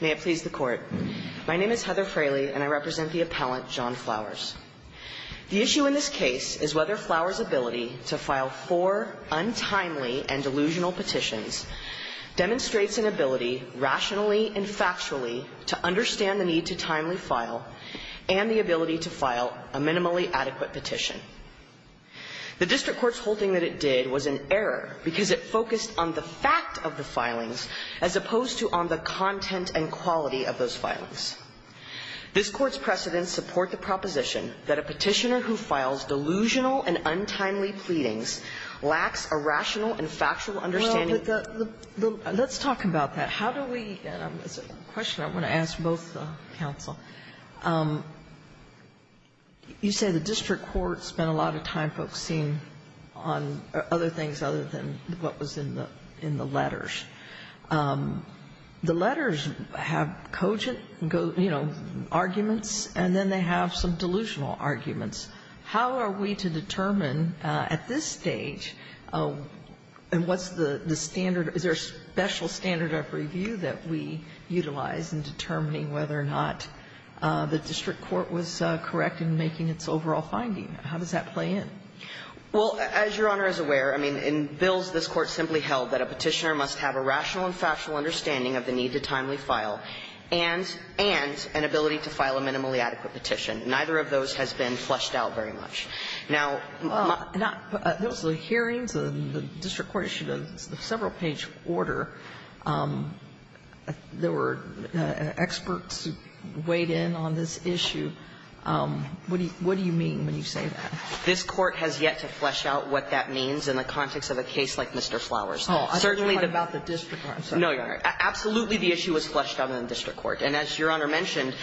May it please the court. My name is Heather Fraley and I represent the appellant John Flowers. The issue in this case is whether Flowers' ability to file four untimely and delusional petitions demonstrates an ability rationally and factually to understand the need to timely file and the ability to file a minimally adequate petition. The district court's holding that it did was an error because it focused on the fact of the filings as opposed to on the content and quality of those filings. This court's precedents support the proposition that a petitioner who files delusional and untimely pleadings lacks a rational and factual understanding Well, the, the, let's talk about that. How do we, it's a question I want to ask both counsel. You say the district court spent a lot of time focusing on other things other than what was in the, in the letters. The letters have cogent, you know, arguments, and then they have some delusional arguments. How are we to determine at this stage, and what's the, the standard, is there a special standard of review that we utilize in determining whether or not the district court was correct in making its overall finding? How does that play in? Well, as Your Honor is aware, I mean, in bills this Court simply held that a petitioner must have a rational and factual understanding of the need to timely file and, and an ability to file a minimally adequate petition. Neither of those has been fleshed out very much. Now, my There was a hearing, the district court issued a several-page order. There were experts who weighed in on this issue. What do you mean when you say that? This Court has yet to flesh out what that means in the context of a case like Mr. Flowers. Oh, I don't know about the district court. No, Your Honor. Absolutely, the issue was fleshed out in the district court. And as Your Honor mentioned,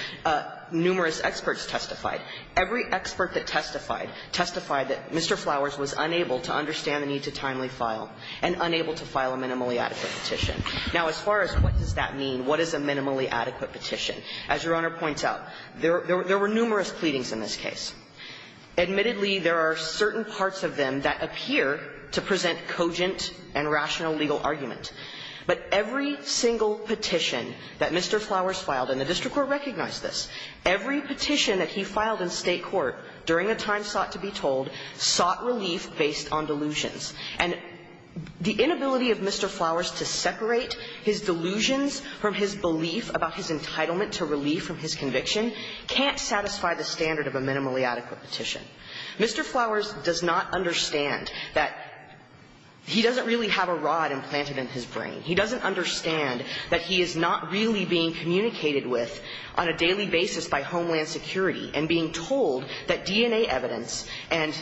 numerous experts testified. Every expert that testified testified that Mr. Flowers was unable to understand the need to timely file and unable to file a minimally adequate petition. Now, as far as what does that mean, what is a minimally adequate petition, as Your Honor points out, there were numerous pleadings in this case. Admittedly, there are certain parts of them that appear to present cogent and rational legal argument. But every single petition that Mr. Flowers filed, and the district court recognized this, every petition that he filed in State court during a time sought to be told sought relief based on delusions. And the inability of Mr. Flowers to separate his delusions from his belief about his entitlement to relief from his conviction can't satisfy the standard of a minimally adequate petition. Mr. Flowers does not understand that he doesn't really have a rod implanted in his brain. He doesn't understand that he is not really being communicated with on a daily basis by Homeland Security and being told that DNA evidence and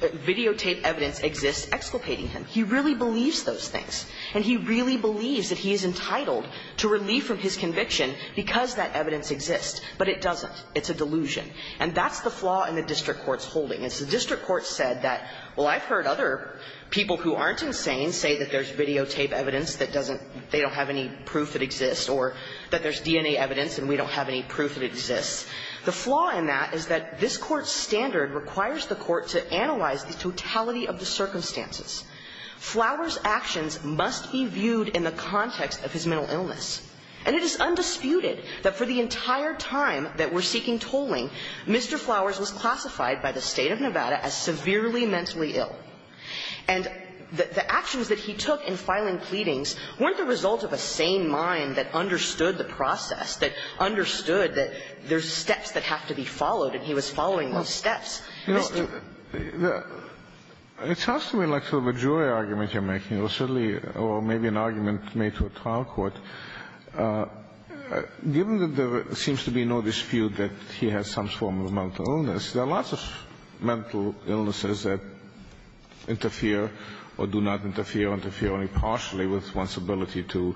videotape evidence exists exculpating him. He really believes those things. And he really believes that he is entitled to relief from his conviction because that evidence exists. But it doesn't. It's a delusion. And that's the flaw in the district court's holding. It's the district court said that, well, I've heard other people who aren't insane say that there's videotape evidence that doesn't, they don't have any proof that exists, or that there's DNA evidence and we don't have any proof that it exists. The flaw in that is that this court's standard requires the court to analyze the totality of the circumstances. Flowers' actions must be viewed in the context of his mental illness. And it is undisputed that for the entire time that we're seeking tolling, Mr. Flowers was classified by the State of Nevada as severely mentally ill. And the actions that he took in filing pleadings weren't the result of a sane mind that understood the process, that understood that there's steps that have to be followed, and he was following those steps. You know, it sounds to me like sort of a jury argument you're making, or certainly or maybe an argument made to a trial court. Given that there seems to be no dispute that he has some form of mental illness, there are lots of mental illnesses that interfere or do not interfere, interfere only partially with one's ability to,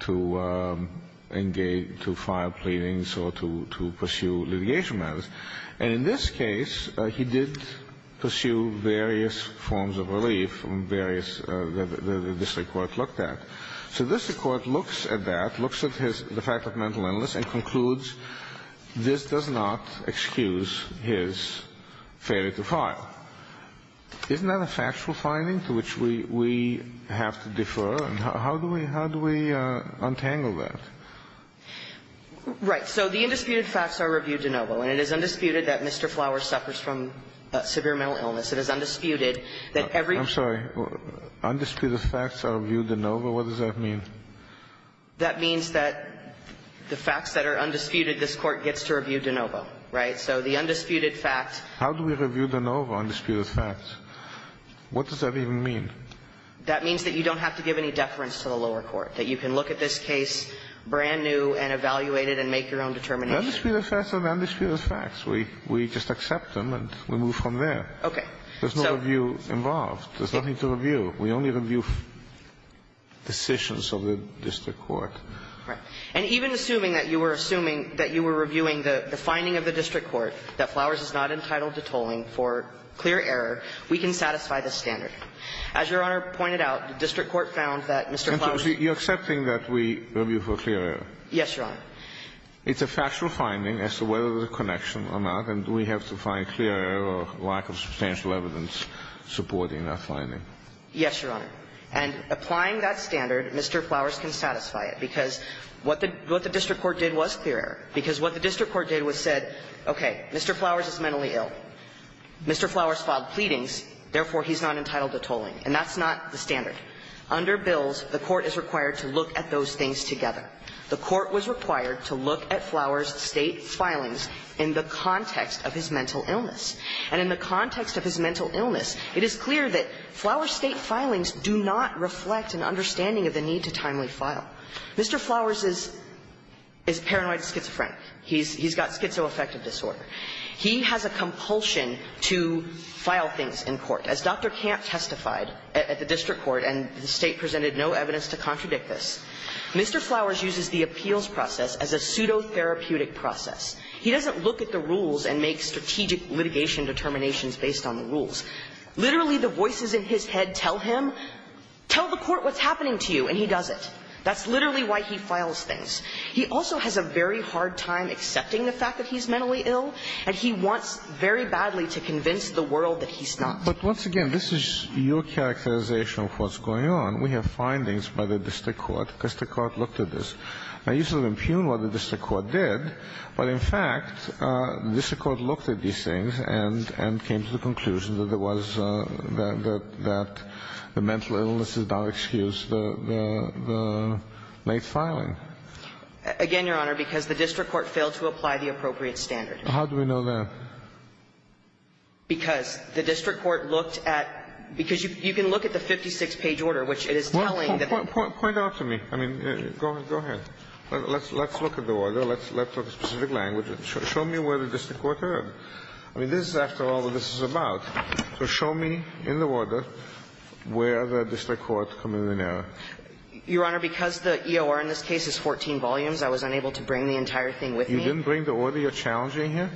to engage, to file pleadings or to, to pursue litigation matters. And in this case, he did pursue various forms of relief, various that this Court looked at. So this Court looks at that, looks at his, the fact of mental illness, and concludes this does not excuse his failure to file. Isn't that a factual finding to which we, we have to defer? And how do we, how do we untangle that? Right. So the undisputed facts are reviewed de novo. And it is undisputed that Mr. Flower suffers from severe mental illness. It is undisputed that every ---- I'm sorry. Undisputed facts are reviewed de novo? What does that mean? That means that the facts that are undisputed, this Court gets to review de novo. Right? So the undisputed facts ---- How do we review de novo, undisputed facts? What does that even mean? That means that you don't have to give any deference to the lower court, that you can look at this case brand new and evaluate it and make your own determination. The undisputed facts are the undisputed facts. We, we just accept them and we move from there. Okay. There's no review involved. There's nothing to review. We only review decisions of the district court. Right. And even assuming that you were assuming that you were reviewing the, the finding of the district court that Flowers is not entitled to tolling for clear error, we can satisfy this standard. As Your Honor pointed out, the district court found that Mr. Flowers ---- You're accepting that we review for clear error? Yes, Your Honor. It's a factual finding as to whether there's a connection or not, and we have to find clear error or lack of substantial evidence supporting that finding. Yes, Your Honor. And applying that standard, Mr. Flowers can satisfy it, because what the, what the district court did was clear error, because what the district court did was said, okay, Mr. Flowers is mentally ill. Mr. Flowers filed pleadings, therefore, he's not entitled to tolling. And that's not the standard. Under bills, the court is required to look at those things together. The court was required to look at Flowers' State filings in the context of his mental illness. And in the context of his mental illness, it is clear that Flowers' State filings do not reflect an understanding of the need to timely file. Mr. Flowers is, is paranoid schizophrenic. He's, he's got schizoaffective disorder. He has a compulsion to file things in court. As Dr. Camp testified at the district court, and the State presented no evidence to contradict this, Mr. Flowers uses the appeals process as a pseudo-therapeutic process. He doesn't look at the rules and make strategic litigation determinations based on the rules. Literally, the voices in his head tell him, tell the court what's happening to you, and he does it. That's literally why he files things. He also has a very hard time accepting the fact that he's mentally ill, and he wants very badly to convince the world that he's not. But once again, this is your characterization of what's going on. We have findings by the district court, because the court looked at this. Now, you sort of impugn what the district court did, but in fact, the district court looked at these things and, and came to the conclusion that there was, that the mental illness is now excused, the, the late filing. Again, Your Honor, because the district court failed to apply the appropriate standard. How do we know that? Because the district court looked at the 56-page order, which is the one that's in the case, and it is telling that. Point out to me. I mean, go ahead. Let's look at the order. Let's look at the specific language. Show me where the district court heard. I mean, this is, after all, what this is about. So show me in the order where the district court committed an error. Your Honor, because the EOR in this case is 14 volumes, I was unable to bring the entire thing with me. You didn't bring the order you're challenging here?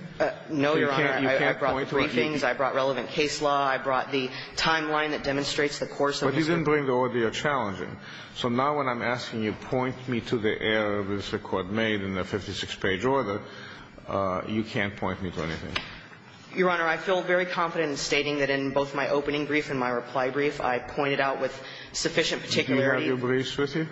No, Your Honor. I brought the briefings. I brought relevant case law. I brought the timeline that demonstrates the course of the circuit. But you didn't bring the order you're challenging. So now when I'm asking you, point me to the error the district court made in the 56-page order, you can't point me to anything. Your Honor, I feel very confident in stating that in both my opening brief and my reply brief, I pointed out with sufficient particularity. Do you have your briefs with you?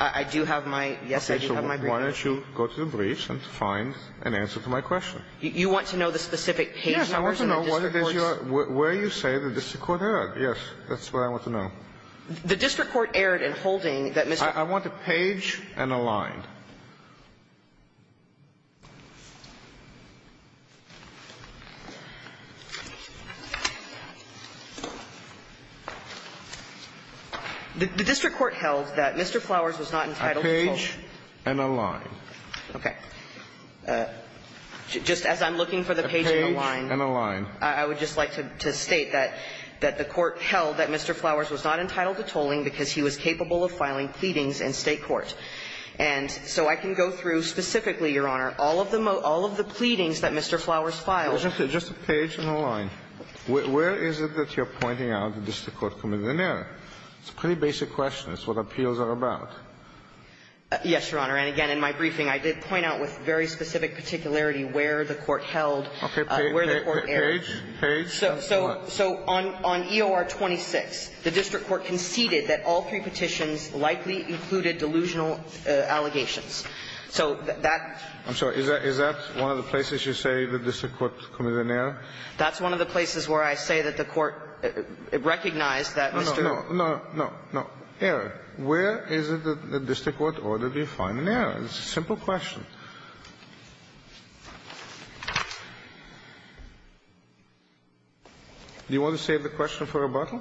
I do have my yes, I do have my briefs with me. Okay. So why don't you go to the briefs and find an answer to my question? You want to know the specific page numbers in the district court's? Yes, I want to know where you say the district court heard. Yes. That's what I want to know. The district court erred in holding that Mr. I want a page and a line. The district court held that Mr. Flowers was not entitled to hold. A page and a line. Okay. Just as I'm looking for the page and a line. A page and a line. I would just like to state that the court held that Mr. Flowers was not entitled to tolling because he was capable of filing pleadings in State court. And so I can go through specifically, Your Honor, all of the pleadings that Mr. Flowers filed. Just a page and a line. Where is it that you're pointing out the district court committed an error? It's a pretty basic question. It's what appeals are about. Yes, Your Honor. And again, in my briefing, I did point out with very specific particularity where the court held, where the court erred. Page, page, line. So on EOR 26, the district court conceded that all three petitions likely included delusional allegations. So that's. I'm sorry. Is that one of the places you say the district court committed an error? That's one of the places where I say that the court recognized that Mr. No, no, no, no, no. Error. Where is it that the district court ordered you to find an error? It's a simple question. Do you want to save the question for rebuttal?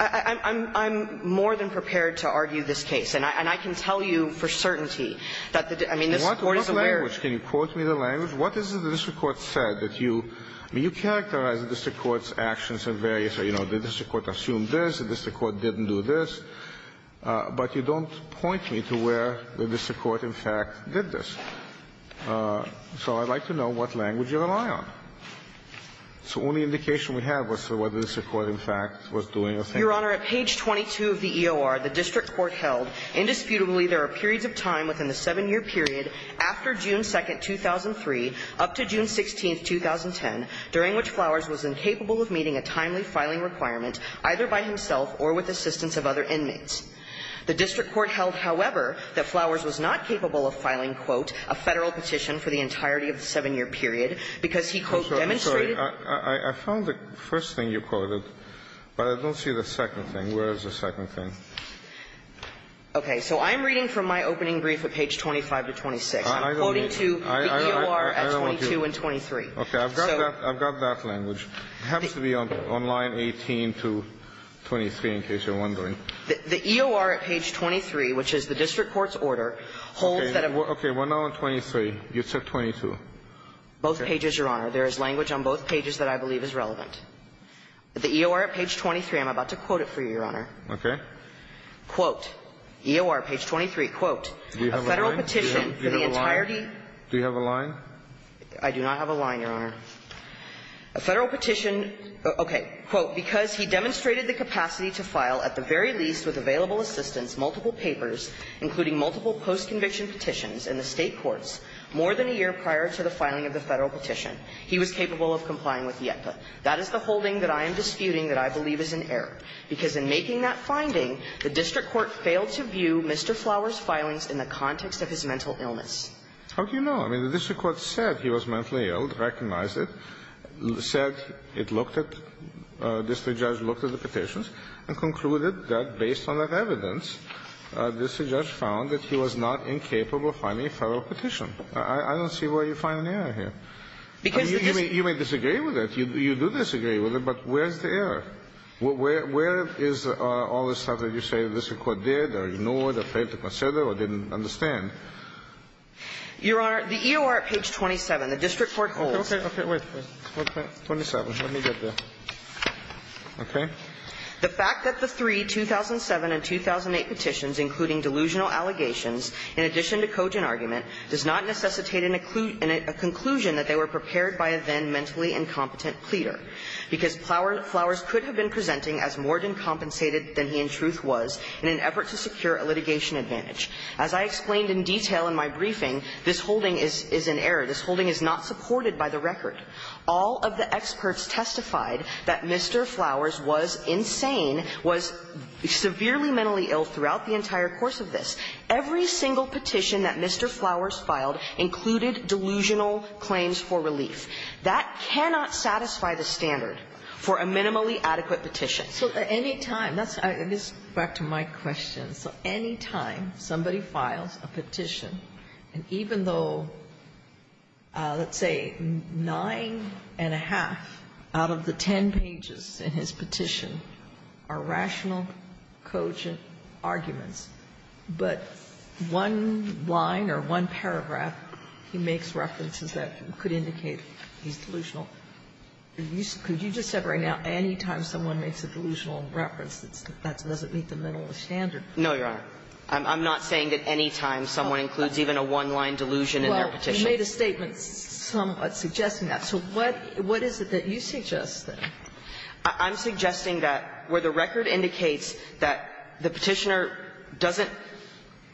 I'm more than prepared to argue this case. And I can tell you for certainty that the – I mean, this Court is aware. What language? Can you quote me the language? What is it the district court said that you – I mean, you characterize the district court's actions in various – you know, the district court assumed this, the district So I'd like to know what language you rely on. It's the only indication we have as to whether the district court, in fact, was doing a thing. Your Honor, at page 22 of the EOR, the district court held, Indisputably, there are periods of time within the 7-year period after June 2, 2003 up to June 16, 2010, during which Flowers was incapable of meeting a timely filing requirement either by himself or with assistance of other inmates. The district court held, however, that Flowers was not capable of filing, quote, a Federal petition for the entirety of the 7-year period because he, quote, demonstrated I'm sorry. I found the first thing you quoted, but I don't see the second thing. Where is the second thing? Okay. So I'm reading from my opening brief at page 25 to 26. I'm quoting to the EOR at 22 and 23. Okay. I've got that language. It has to be on line 18 to 23, in case you're wondering. The EOR at page 23, which is the district court's order, holds that a Okay. Okay. One on 23. You said 22. Both pages, Your Honor. There is language on both pages that I believe is relevant. The EOR at page 23, I'm about to quote it for you, Your Honor. Okay. Quote, EOR page 23, quote, a Federal petition for the entirety Do you have a line? I do not have a line, Your Honor. A Federal petition, okay, quote, because he demonstrated the capacity to file at the very least with available assistance multiple papers, including multiple post-conviction petitions in the State courts, more than a year prior to the filing of the Federal petition. He was capable of complying with the ECA. That is the holding that I am disputing that I believe is in error, because in making that finding, the district court failed to view Mr. Flower's filings in the context of his mental illness. How do you know? I mean, the district court said he was mentally ill, recognized it, said it looked at, the district judge looked at the petitions and concluded that based on that evidence, the district judge found that he was not incapable of finding a Federal petition. I don't see where you find an error here. I mean, you may disagree with it. You do disagree with it, but where is the error? Where is all the stuff that you say the district court did or ignored or failed to consider or didn't understand? Your Honor, the EOR at page 27, the district court holds. Okay, okay, wait, wait. Okay, 27, let me get the, okay. The fact that the three 2007 and 2008 petitions, including delusional allegations in addition to cogent argument, does not necessitate a conclusion that they were prepared by a then mentally incompetent pleader, because Flowers could have been presenting as more than compensated than he in truth was in an effort to secure a litigation advantage. As I explained in detail in my briefing, this holding is in error. This holding is not supported by the record. All of the experts testified that Mr. Flowers was insane, was severely mentally ill throughout the entire course of this. Every single petition that Mr. Flowers filed included delusional claims for relief. That cannot satisfy the standard for a minimally adequate petition. So any time, that's, this is back to my question, so any time somebody files a petition, and even though, let's say, nine and a half out of the ten pages in his petition are rational, cogent arguments, but one line or one paragraph he makes references that could indicate he's delusional, could you just say right now, any time someone makes a delusional reference, that doesn't meet the minimum standard? No, Your Honor. I'm not saying that any time someone includes even a one-line delusion in their petition. Well, you made a statement suggesting that. So what is it that you suggest there? I'm suggesting that where the record indicates that the petitioner doesn't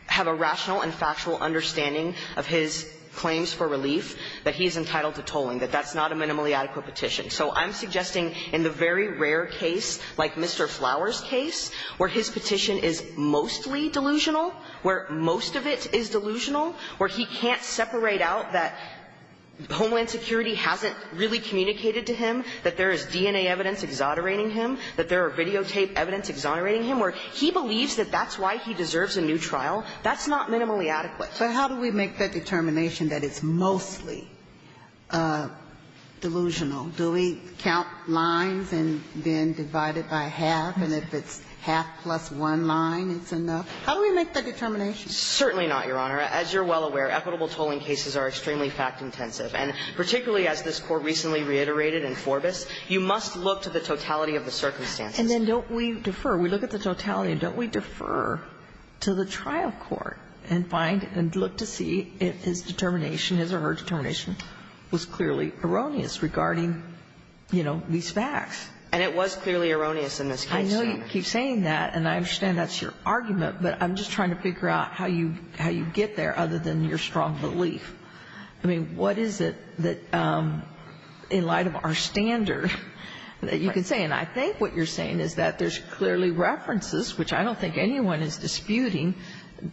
have a rational and factual understanding of his claims for relief, that he is entitled to tolling, that that's not a minimally adequate petition. So I'm suggesting in the very rare case, like Mr. Flowers' case, where his petition is mostly delusional, where most of it is delusional, where he can't separate out that Homeland Security hasn't really communicated to him, that there is DNA evidence exonerating him, that there are videotaped evidence exonerating him, where he believes that that's why he deserves a new trial, that's not minimally adequate. But how do we make that determination that it's mostly delusional? Do we count lines and then divide it by half, and if it's half plus one line, it's enough? How do we make that determination? Certainly not, Your Honor. As you're well aware, equitable tolling cases are extremely fact-intensive. And particularly as this Court recently reiterated in Forbis, you must look to the totality of the circumstances. And then don't we defer? We look at the totality, and don't we defer to the trial court and find and look to see if his determination, his or her determination, was clearly erroneous regarding, you know, these facts? And it was clearly erroneous in this case, Your Honor. I know you keep saying that, and I understand that's your argument, but I'm just trying to figure out how you get there, other than your strong belief. I mean, what is it that, in light of our standard, that you can say? And I think what you're saying is that there's clearly references, which I don't think anyone is disputing,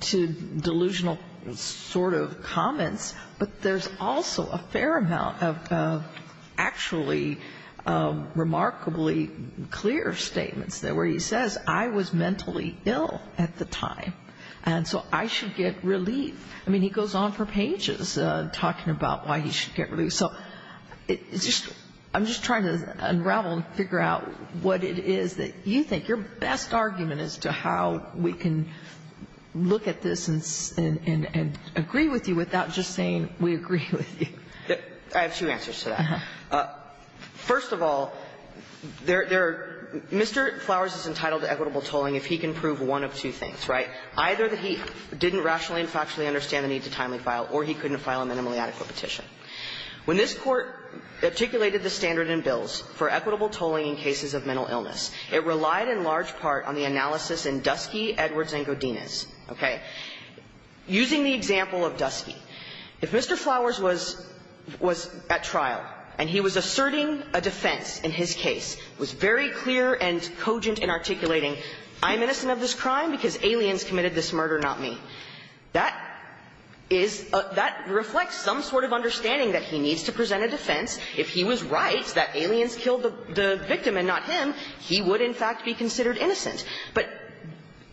to delusional sort of comments, but there's also a fair amount of actually remarkably clear statements where he says, I was mentally ill at the time, and so I should get relief. I mean, he goes on for pages talking about why he should get relief. So it's just — I'm just trying to unravel and figure out what it is that you think your best argument is to how we can look at this and agree with you without just saying, we agree with you. I have two answers to that. First of all, Mr. Flowers is entitled to equitable tolling if he can prove one of two things, right? Either that he didn't rationally and factually understand the need to timely file, or he couldn't file a minimally adequate petition. When this Court articulated the standard in bills for equitable tolling in cases of mental illness, it relied in large part on the analysis in Dusky, Edwards, and Godinez. Okay? Using the example of Dusky, if Mr. Flowers was at trial and he was asserting a defense in his case, was very clear and cogent in articulating, I'm innocent of this crime because aliens committed this murder, not me, that is — that reflects some sort of understanding that he needs to present a defense if he was right that the victim and not him, he would in fact be considered innocent. But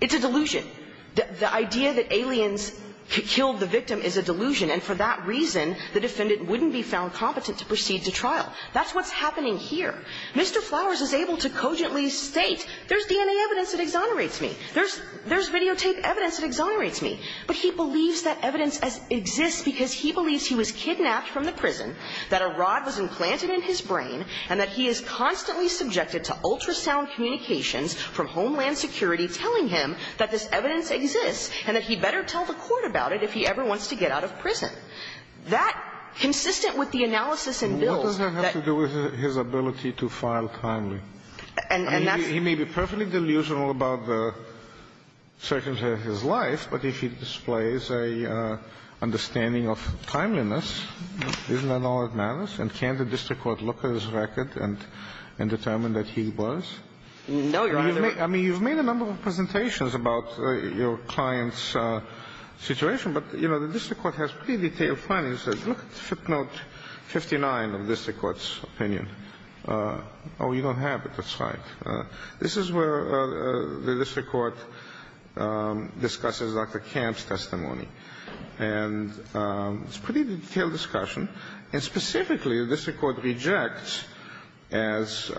it's a delusion. The idea that aliens killed the victim is a delusion, and for that reason, the defendant wouldn't be found competent to proceed to trial. That's what's happening here. Mr. Flowers is able to cogently state, there's DNA evidence that exonerates me. There's videotape evidence that exonerates me. But he believes that evidence exists because he believes he was kidnapped from the ultrasound communications from Homeland Security telling him that this evidence exists and that he better tell the court about it if he ever wants to get out of prison. That, consistent with the analysis in Mills that — What does that have to do with his ability to file timely? And that's — I mean, he may be perfectly delusional about the circumstances of his life, but if he displays an understanding of timeliness, isn't that all that matters? And can the district court look at his record and determine that he was? No, Your Honor. I mean, you've made a number of presentations about your client's situation, but, you know, the district court has pretty detailed findings. Look at FIP Note 59 of the district court's opinion. Oh, you don't have it. That's right. This is where the district court discusses Dr. Camp's testimony. And it's a pretty detailed discussion. And specifically, the district court rejects as —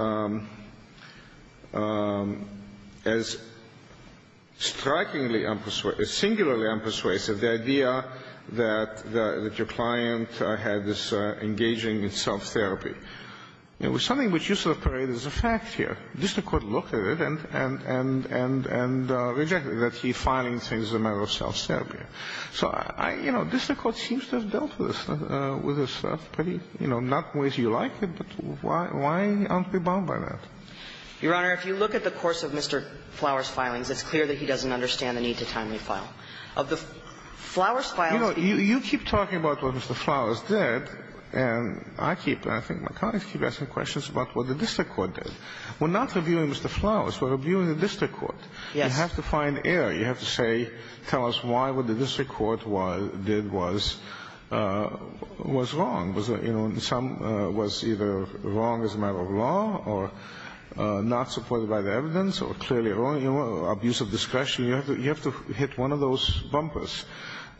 as strikingly unpersuasive — singularly unpersuasive the idea that your client had this engaging in self-therapy. It was something which you separate as a fact here. The district court looked at it and — and — and — and rejected that he filing things as a matter of self-therapy. So I — you know, district court seems to have dealt with this — with this pretty — you know, not in ways you like it, but why — why aren't we bound by that? Your Honor, if you look at the course of Mr. Flowers' filings, it's clear that he doesn't understand the need to timely file. Of the Flowers' filings — You know, you — you keep talking about what Mr. Flowers did, and I keep — and I think my colleagues keep asking questions about what the district court did. We're not reviewing Mr. Flowers. We're reviewing the district court. Yes. You have to find error. You have to say — tell us why what the district court did was — was wrong. Was it — you know, some — was either wrong as a matter of law or not supported by the evidence or clearly wrong, you know, abuse of discretion. You have to — you have to hit one of those bumpers.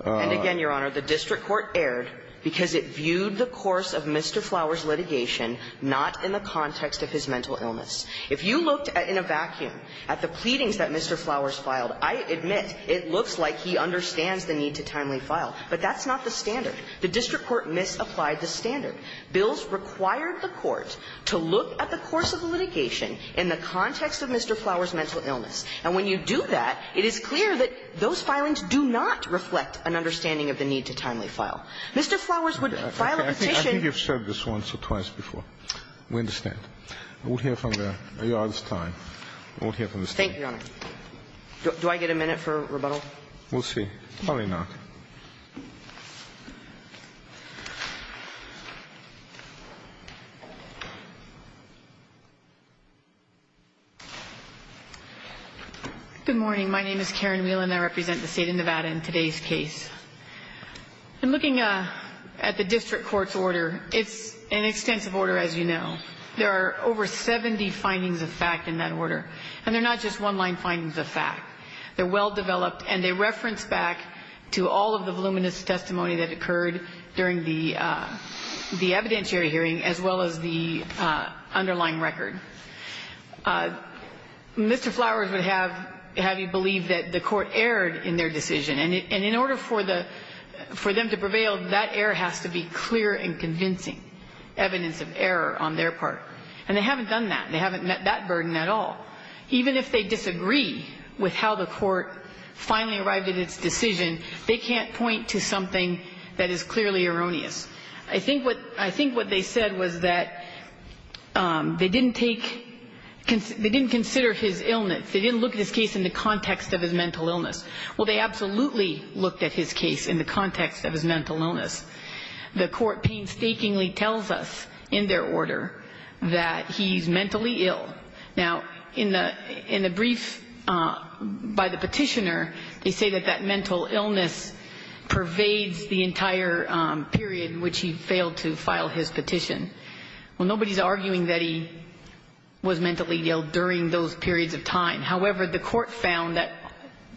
And again, Your Honor, the district court erred because it viewed the course of Mr. Flowers' litigation not in the context of his mental illness. If you looked in a vacuum at the pleadings that Mr. Flowers filed, I admit it looks like he understands the need to timely file, but that's not the standard. The district court misapplied the standard. Bills required the court to look at the course of the litigation in the context of Mr. Flowers' mental illness. And when you do that, it is clear that those filings do not reflect an understanding of the need to timely file. Mr. Flowers would file a petition — I think you've said this once or twice before. We understand. We'll hear from the — your Honor's time. We'll hear from the State. Thank you, Your Honor. Do I get a minute for rebuttal? We'll see. Probably not. Good morning. My name is Karen Wheelan. I represent the State of Nevada in today's case. In looking at the district court's order, it's an extensive order, as you know. There are over 70 findings of fact in that order. And they're not just one-line findings of fact. They're well-developed, and they reference back to all of the voluminous testimony that occurred during the evidentiary hearing, as well as the underlying record. Mr. Flowers would have you believe that the court erred in their decision. And in order for them to prevail, that error has to be clear and convincing, evidence of error on their part. And they haven't done that. They haven't met that burden at all. Even if they disagree with how the court finally arrived at its decision, they can't point to something that is clearly erroneous. I think what they said was that they didn't take — they didn't consider his illness. They didn't look at his case in the context of his mental illness. Well, they absolutely looked at his case in the context of his mental illness. The court painstakingly tells us in their order that he's mentally ill. Now, in the brief by the petitioner, they say that that mental illness pervades the entire period in which he failed to file his petition. Well, nobody's arguing that he was mentally ill during those periods of time. However, the court found that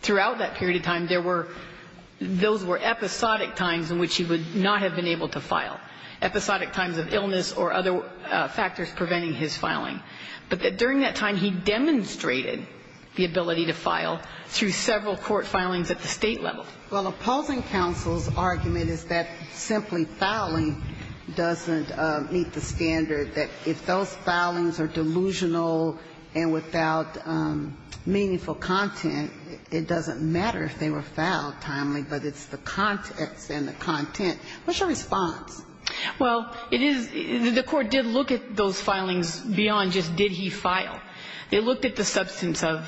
throughout that period of time, there were — those were episodic times in which he would not have been able to file, episodic times of illness or other factors preventing his filing. But during that time, he demonstrated the ability to file through several court filings at the State level. Well, opposing counsel's argument is that simply filing doesn't meet the standard, that if those filings are delusional and without meaningful content, it doesn't matter if they were filed timely, but it's the context and the content. What's your response? Well, it is — the court did look at those filings beyond just did he file. They looked at the substance of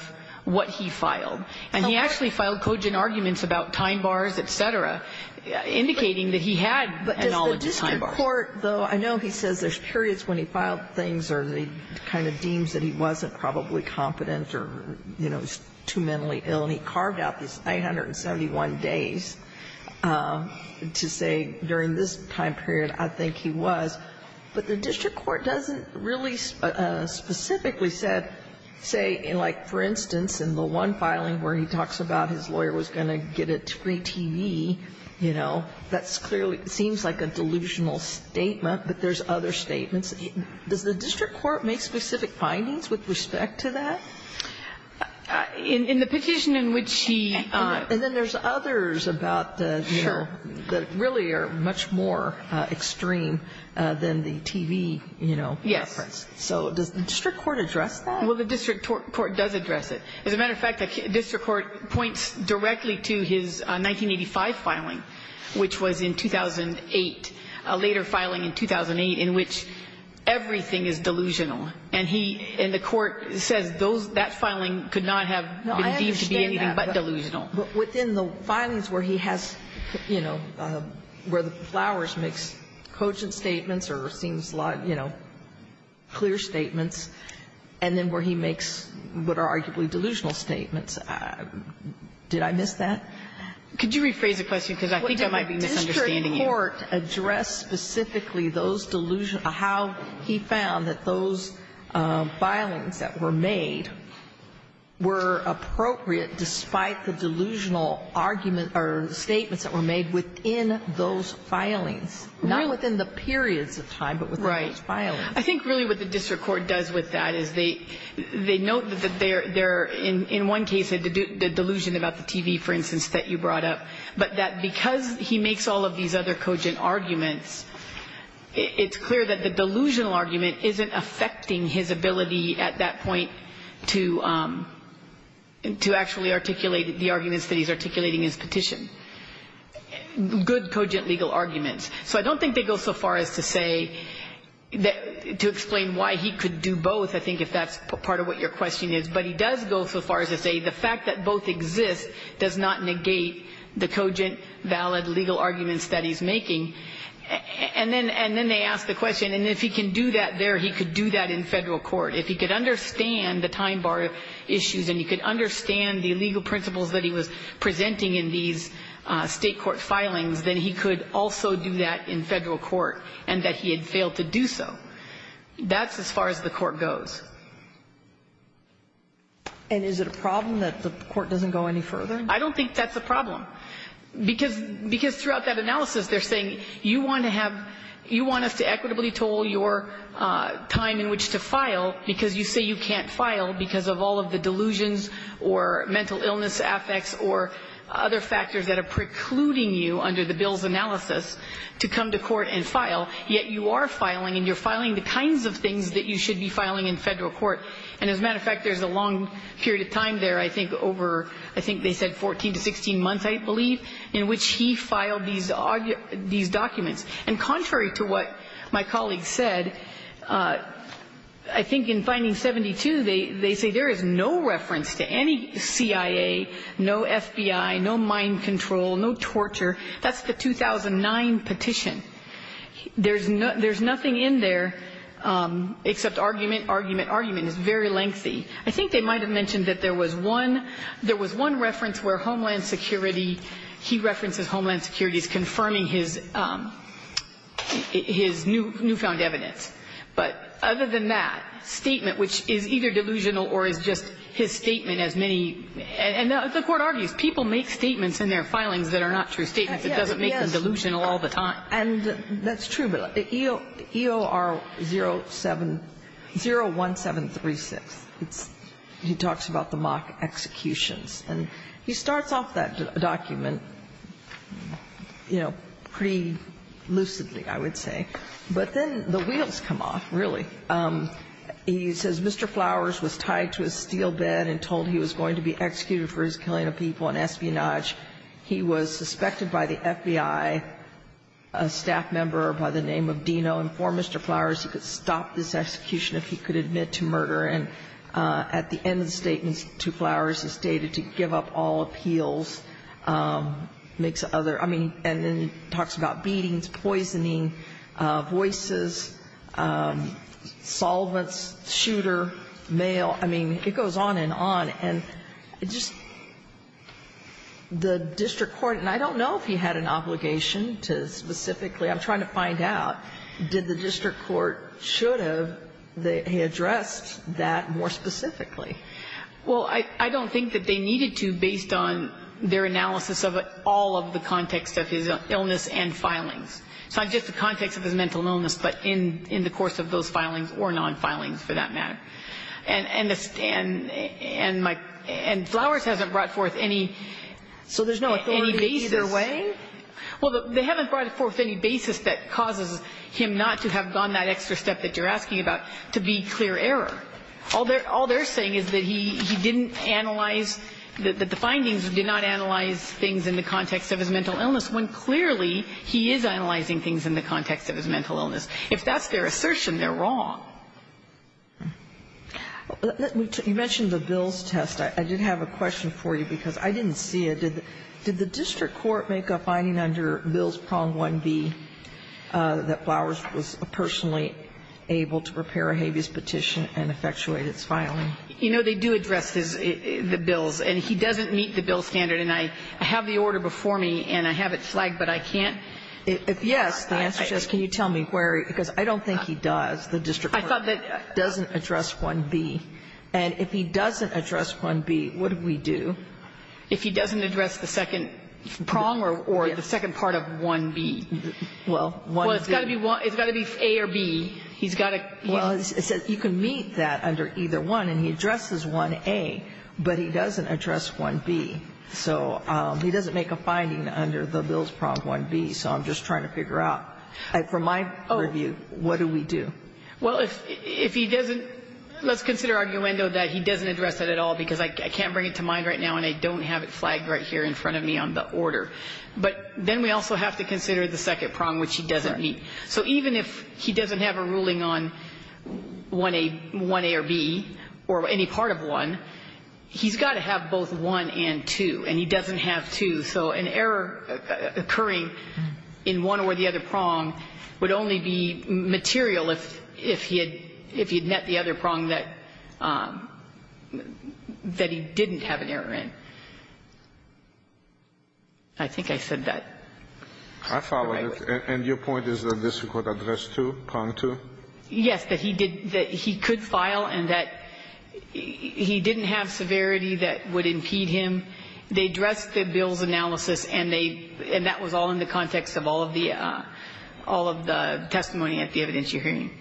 what he filed. And he actually filed cogent arguments about time bars, et cetera, indicating that he had a knowledge of time bars. But does the district court, though — I know he says there's periods when he filed things or he kind of deems that he wasn't probably competent or, you know, too mentally ill, and he carved out these 871 days to say during this time period, I think he was. But the district court doesn't really specifically say, like, for instance, in the one filing where he talks about his lawyer was going to get a free TV, you know, that's clearly — seems like a delusional statement, but there's other statements. Does the district court make specific findings with respect to that? In the petition in which he — And then there's others about the — Sure. That really are much more extreme than the TV, you know, reference. Yes. So does the district court address that? Well, the district court does address it. As a matter of fact, the district court points directly to his 1985 filing, which was in 2008, a later filing in 2008, in which everything is delusional. And he — and the court says those — that filing could not have been deemed to be anything but delusional. No, I understand that. But within the filings where he has, you know, where the flowers makes cogent statements or seems a lot, you know, clear statements, and then where he makes what are arguably delusional statements, did I miss that? Could you rephrase the question? Because I think I might be misunderstanding you. The district court addressed specifically those delusional — how he found that those filings that were made were appropriate despite the delusional argument or statements that were made within those filings. Really? Not within the periods of time, but within those filings. Right. I think really what the district court does with that is they note that they're — in one case, the delusion about the TV, for instance, that you brought up, but that because he makes all of these other cogent arguments, it's clear that the delusional argument isn't affecting his ability at that point to actually articulate the arguments that he's articulating in his petition, good cogent legal arguments. So I don't think they go so far as to say — to explain why he could do both, I think, if that's part of what your question is. But he does go so far as to say the fact that both exist does not negate the cogent valid legal arguments that he's making. And then — and then they ask the question, and if he can do that there, he could do that in Federal court. If he could understand the time bar issues and he could understand the legal principles that he was presenting in these State court filings, then he could also do that in Federal court, and that he had failed to do so. That's as far as the court goes. And is it a problem that the court doesn't go any further? I don't think that's a problem, because — because throughout that analysis, they're saying you want to have — you want us to equitably toll your time in which to file, because you say you can't file because of all of the delusions or mental illness affects or other factors that are precluding you under the bill's analysis to come to court and file. Yet you are filing, and you're filing the kinds of things that you should be filing in Federal court. And as a matter of fact, there's a long period of time there, I think, over, I think they said 14 to 16 months, I believe, in which he filed these documents. And contrary to what my colleagues said, I think in finding 72, they say there is no reference to any CIA, no FBI, no mind control, no torture. That's the 2009 petition. And it's very lengthy. I think they might have mentioned that there was one — there was one reference where Homeland Security — he references Homeland Security as confirming his — his newfound evidence. But other than that, statement which is either delusional or is just his statement as many — and the court argues people make statements in their filings that are not true statements. It doesn't make them delusional all the time. And that's true. But EOR 07 — 01736, it's — he talks about the mock executions. And he starts off that document, you know, pretty lucidly, I would say. But then the wheels come off, really. He says Mr. Flowers was tied to a steel bed and told he was going to be executed for his killing of people and espionage. He was suspected by the FBI, a staff member by the name of Dino, informed Mr. Flowers he could stop this execution if he could admit to murder. And at the end of the statement to Flowers, he stated to give up all appeals, makes other — I mean, and then he talks about beatings, poisoning, voices, solvents, shooter, mail. I mean, it goes on and on. And it just — the district court — and I don't know if he had an obligation to specifically — I'm trying to find out. Did the district court — should have he addressed that more specifically? Well, I don't think that they needed to based on their analysis of all of the context of his illness and filings. It's not just the context of his mental illness, but in the course of those filings or non-filings, for that matter. And my — and Flowers hasn't brought forth any basis. So there's no authority either way? Well, they haven't brought forth any basis that causes him not to have gone that extra step that you're asking about, to be clear error. All they're saying is that he didn't analyze — that the findings did not analyze things in the context of his mental illness, when clearly he is analyzing things in the context of his mental illness. If that's their assertion, they're wrong. You mentioned the Bills test. I did have a question for you, because I didn't see it. Did the district court make a finding under Bills Prong 1B that Flowers was personally able to prepare a habeas petition and effectuate its filing? You know, they do address the Bills. And he doesn't meet the Bills standard. And I have the order before me, and I have it flagged, but I can't. If yes, the answer is yes. Can you tell me where? Because I don't think he does. The district court doesn't address 1B. And if he doesn't address 1B, what do we do? If he doesn't address the second prong or the second part of 1B. Well, 1B. Well, it's got to be A or B. He's got to — Well, it says you can meet that under either one. And he addresses 1A, but he doesn't address 1B. So he doesn't make a finding under the Bills Prong 1B. So I'm just trying to figure out. For my review, what do we do? Well, if he doesn't, let's consider arguendo that he doesn't address it at all, because I can't bring it to mind right now, and I don't have it flagged right here in front of me on the order. But then we also have to consider the second prong, which he doesn't meet. So even if he doesn't have a ruling on 1A or B, or any part of 1, he's got to have both 1 and 2. And he doesn't have 2. So an error occurring in one or the other prong would only be material if he had met the other prong that he didn't have an error in. I think I said that. I followed it. And your point is that this could address 2, prong 2? Yes, that he could file and that he didn't have severity that would impede him. They addressed the bill's analysis, and that was all in the context of all of the testimony at the evidence you're hearing.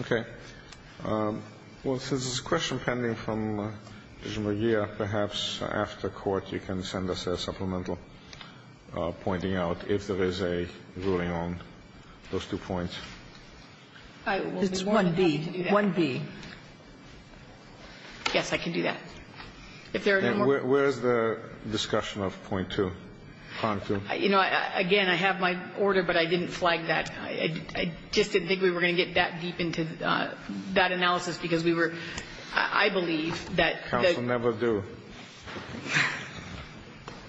Okay. Well, since there's a question pending from Judge Mejia, perhaps after court you can send us a supplemental pointing out if there is a ruling on those two points. It's 1B. 1B. Yes, I can do that. If there are no more. Then where is the discussion of point 2, prong 2? You know, again, I have my order, but I didn't flag that. I just didn't think we were going to get that deep into that analysis, because we were – I believe that the – Counsel never do.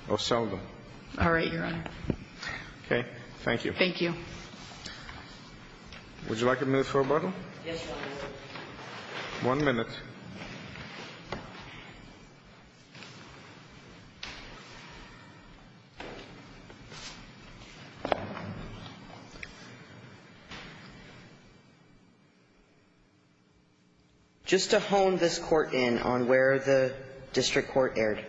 Or seldom. All right, Your Honor. Okay. Thank you. Thank you. Would you like a minute for rebuttal? Yes, Your Honor. One minute. Just to hone this Court in on where the district court erred.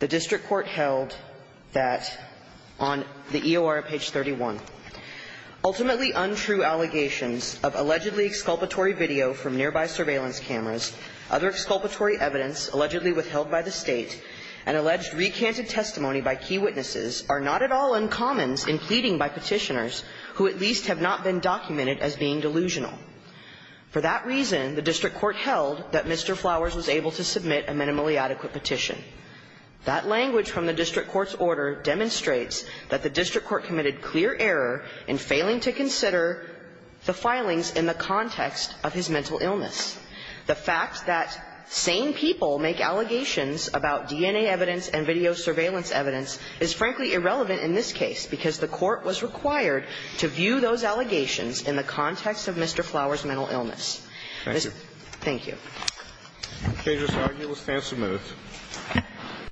The district court held that on the EOR page 31, ultimately untrue allegations of allegedly exculpatory video from nearby surveillance cameras, other exculpatory evidence allegedly withheld by the State, and alleged recanted testimony by key witnesses are not at all uncommons in pleading by Petitioners who at least have not been documented as being delusional. For that reason, the district court held that Mr. Flowers was able to submit a minimally adequate petition. That language from the district court's order demonstrates that the district court committed clear error in failing to consider the filings in the context of his mental illness. The fact that sane people make allegations about DNA evidence and video surveillance evidence is frankly irrelevant in this case, because the court was required to view those allegations in the context of Mr. Flowers' mental illness. Thank you. Thank you. Okay. Just argue a stance of minutes.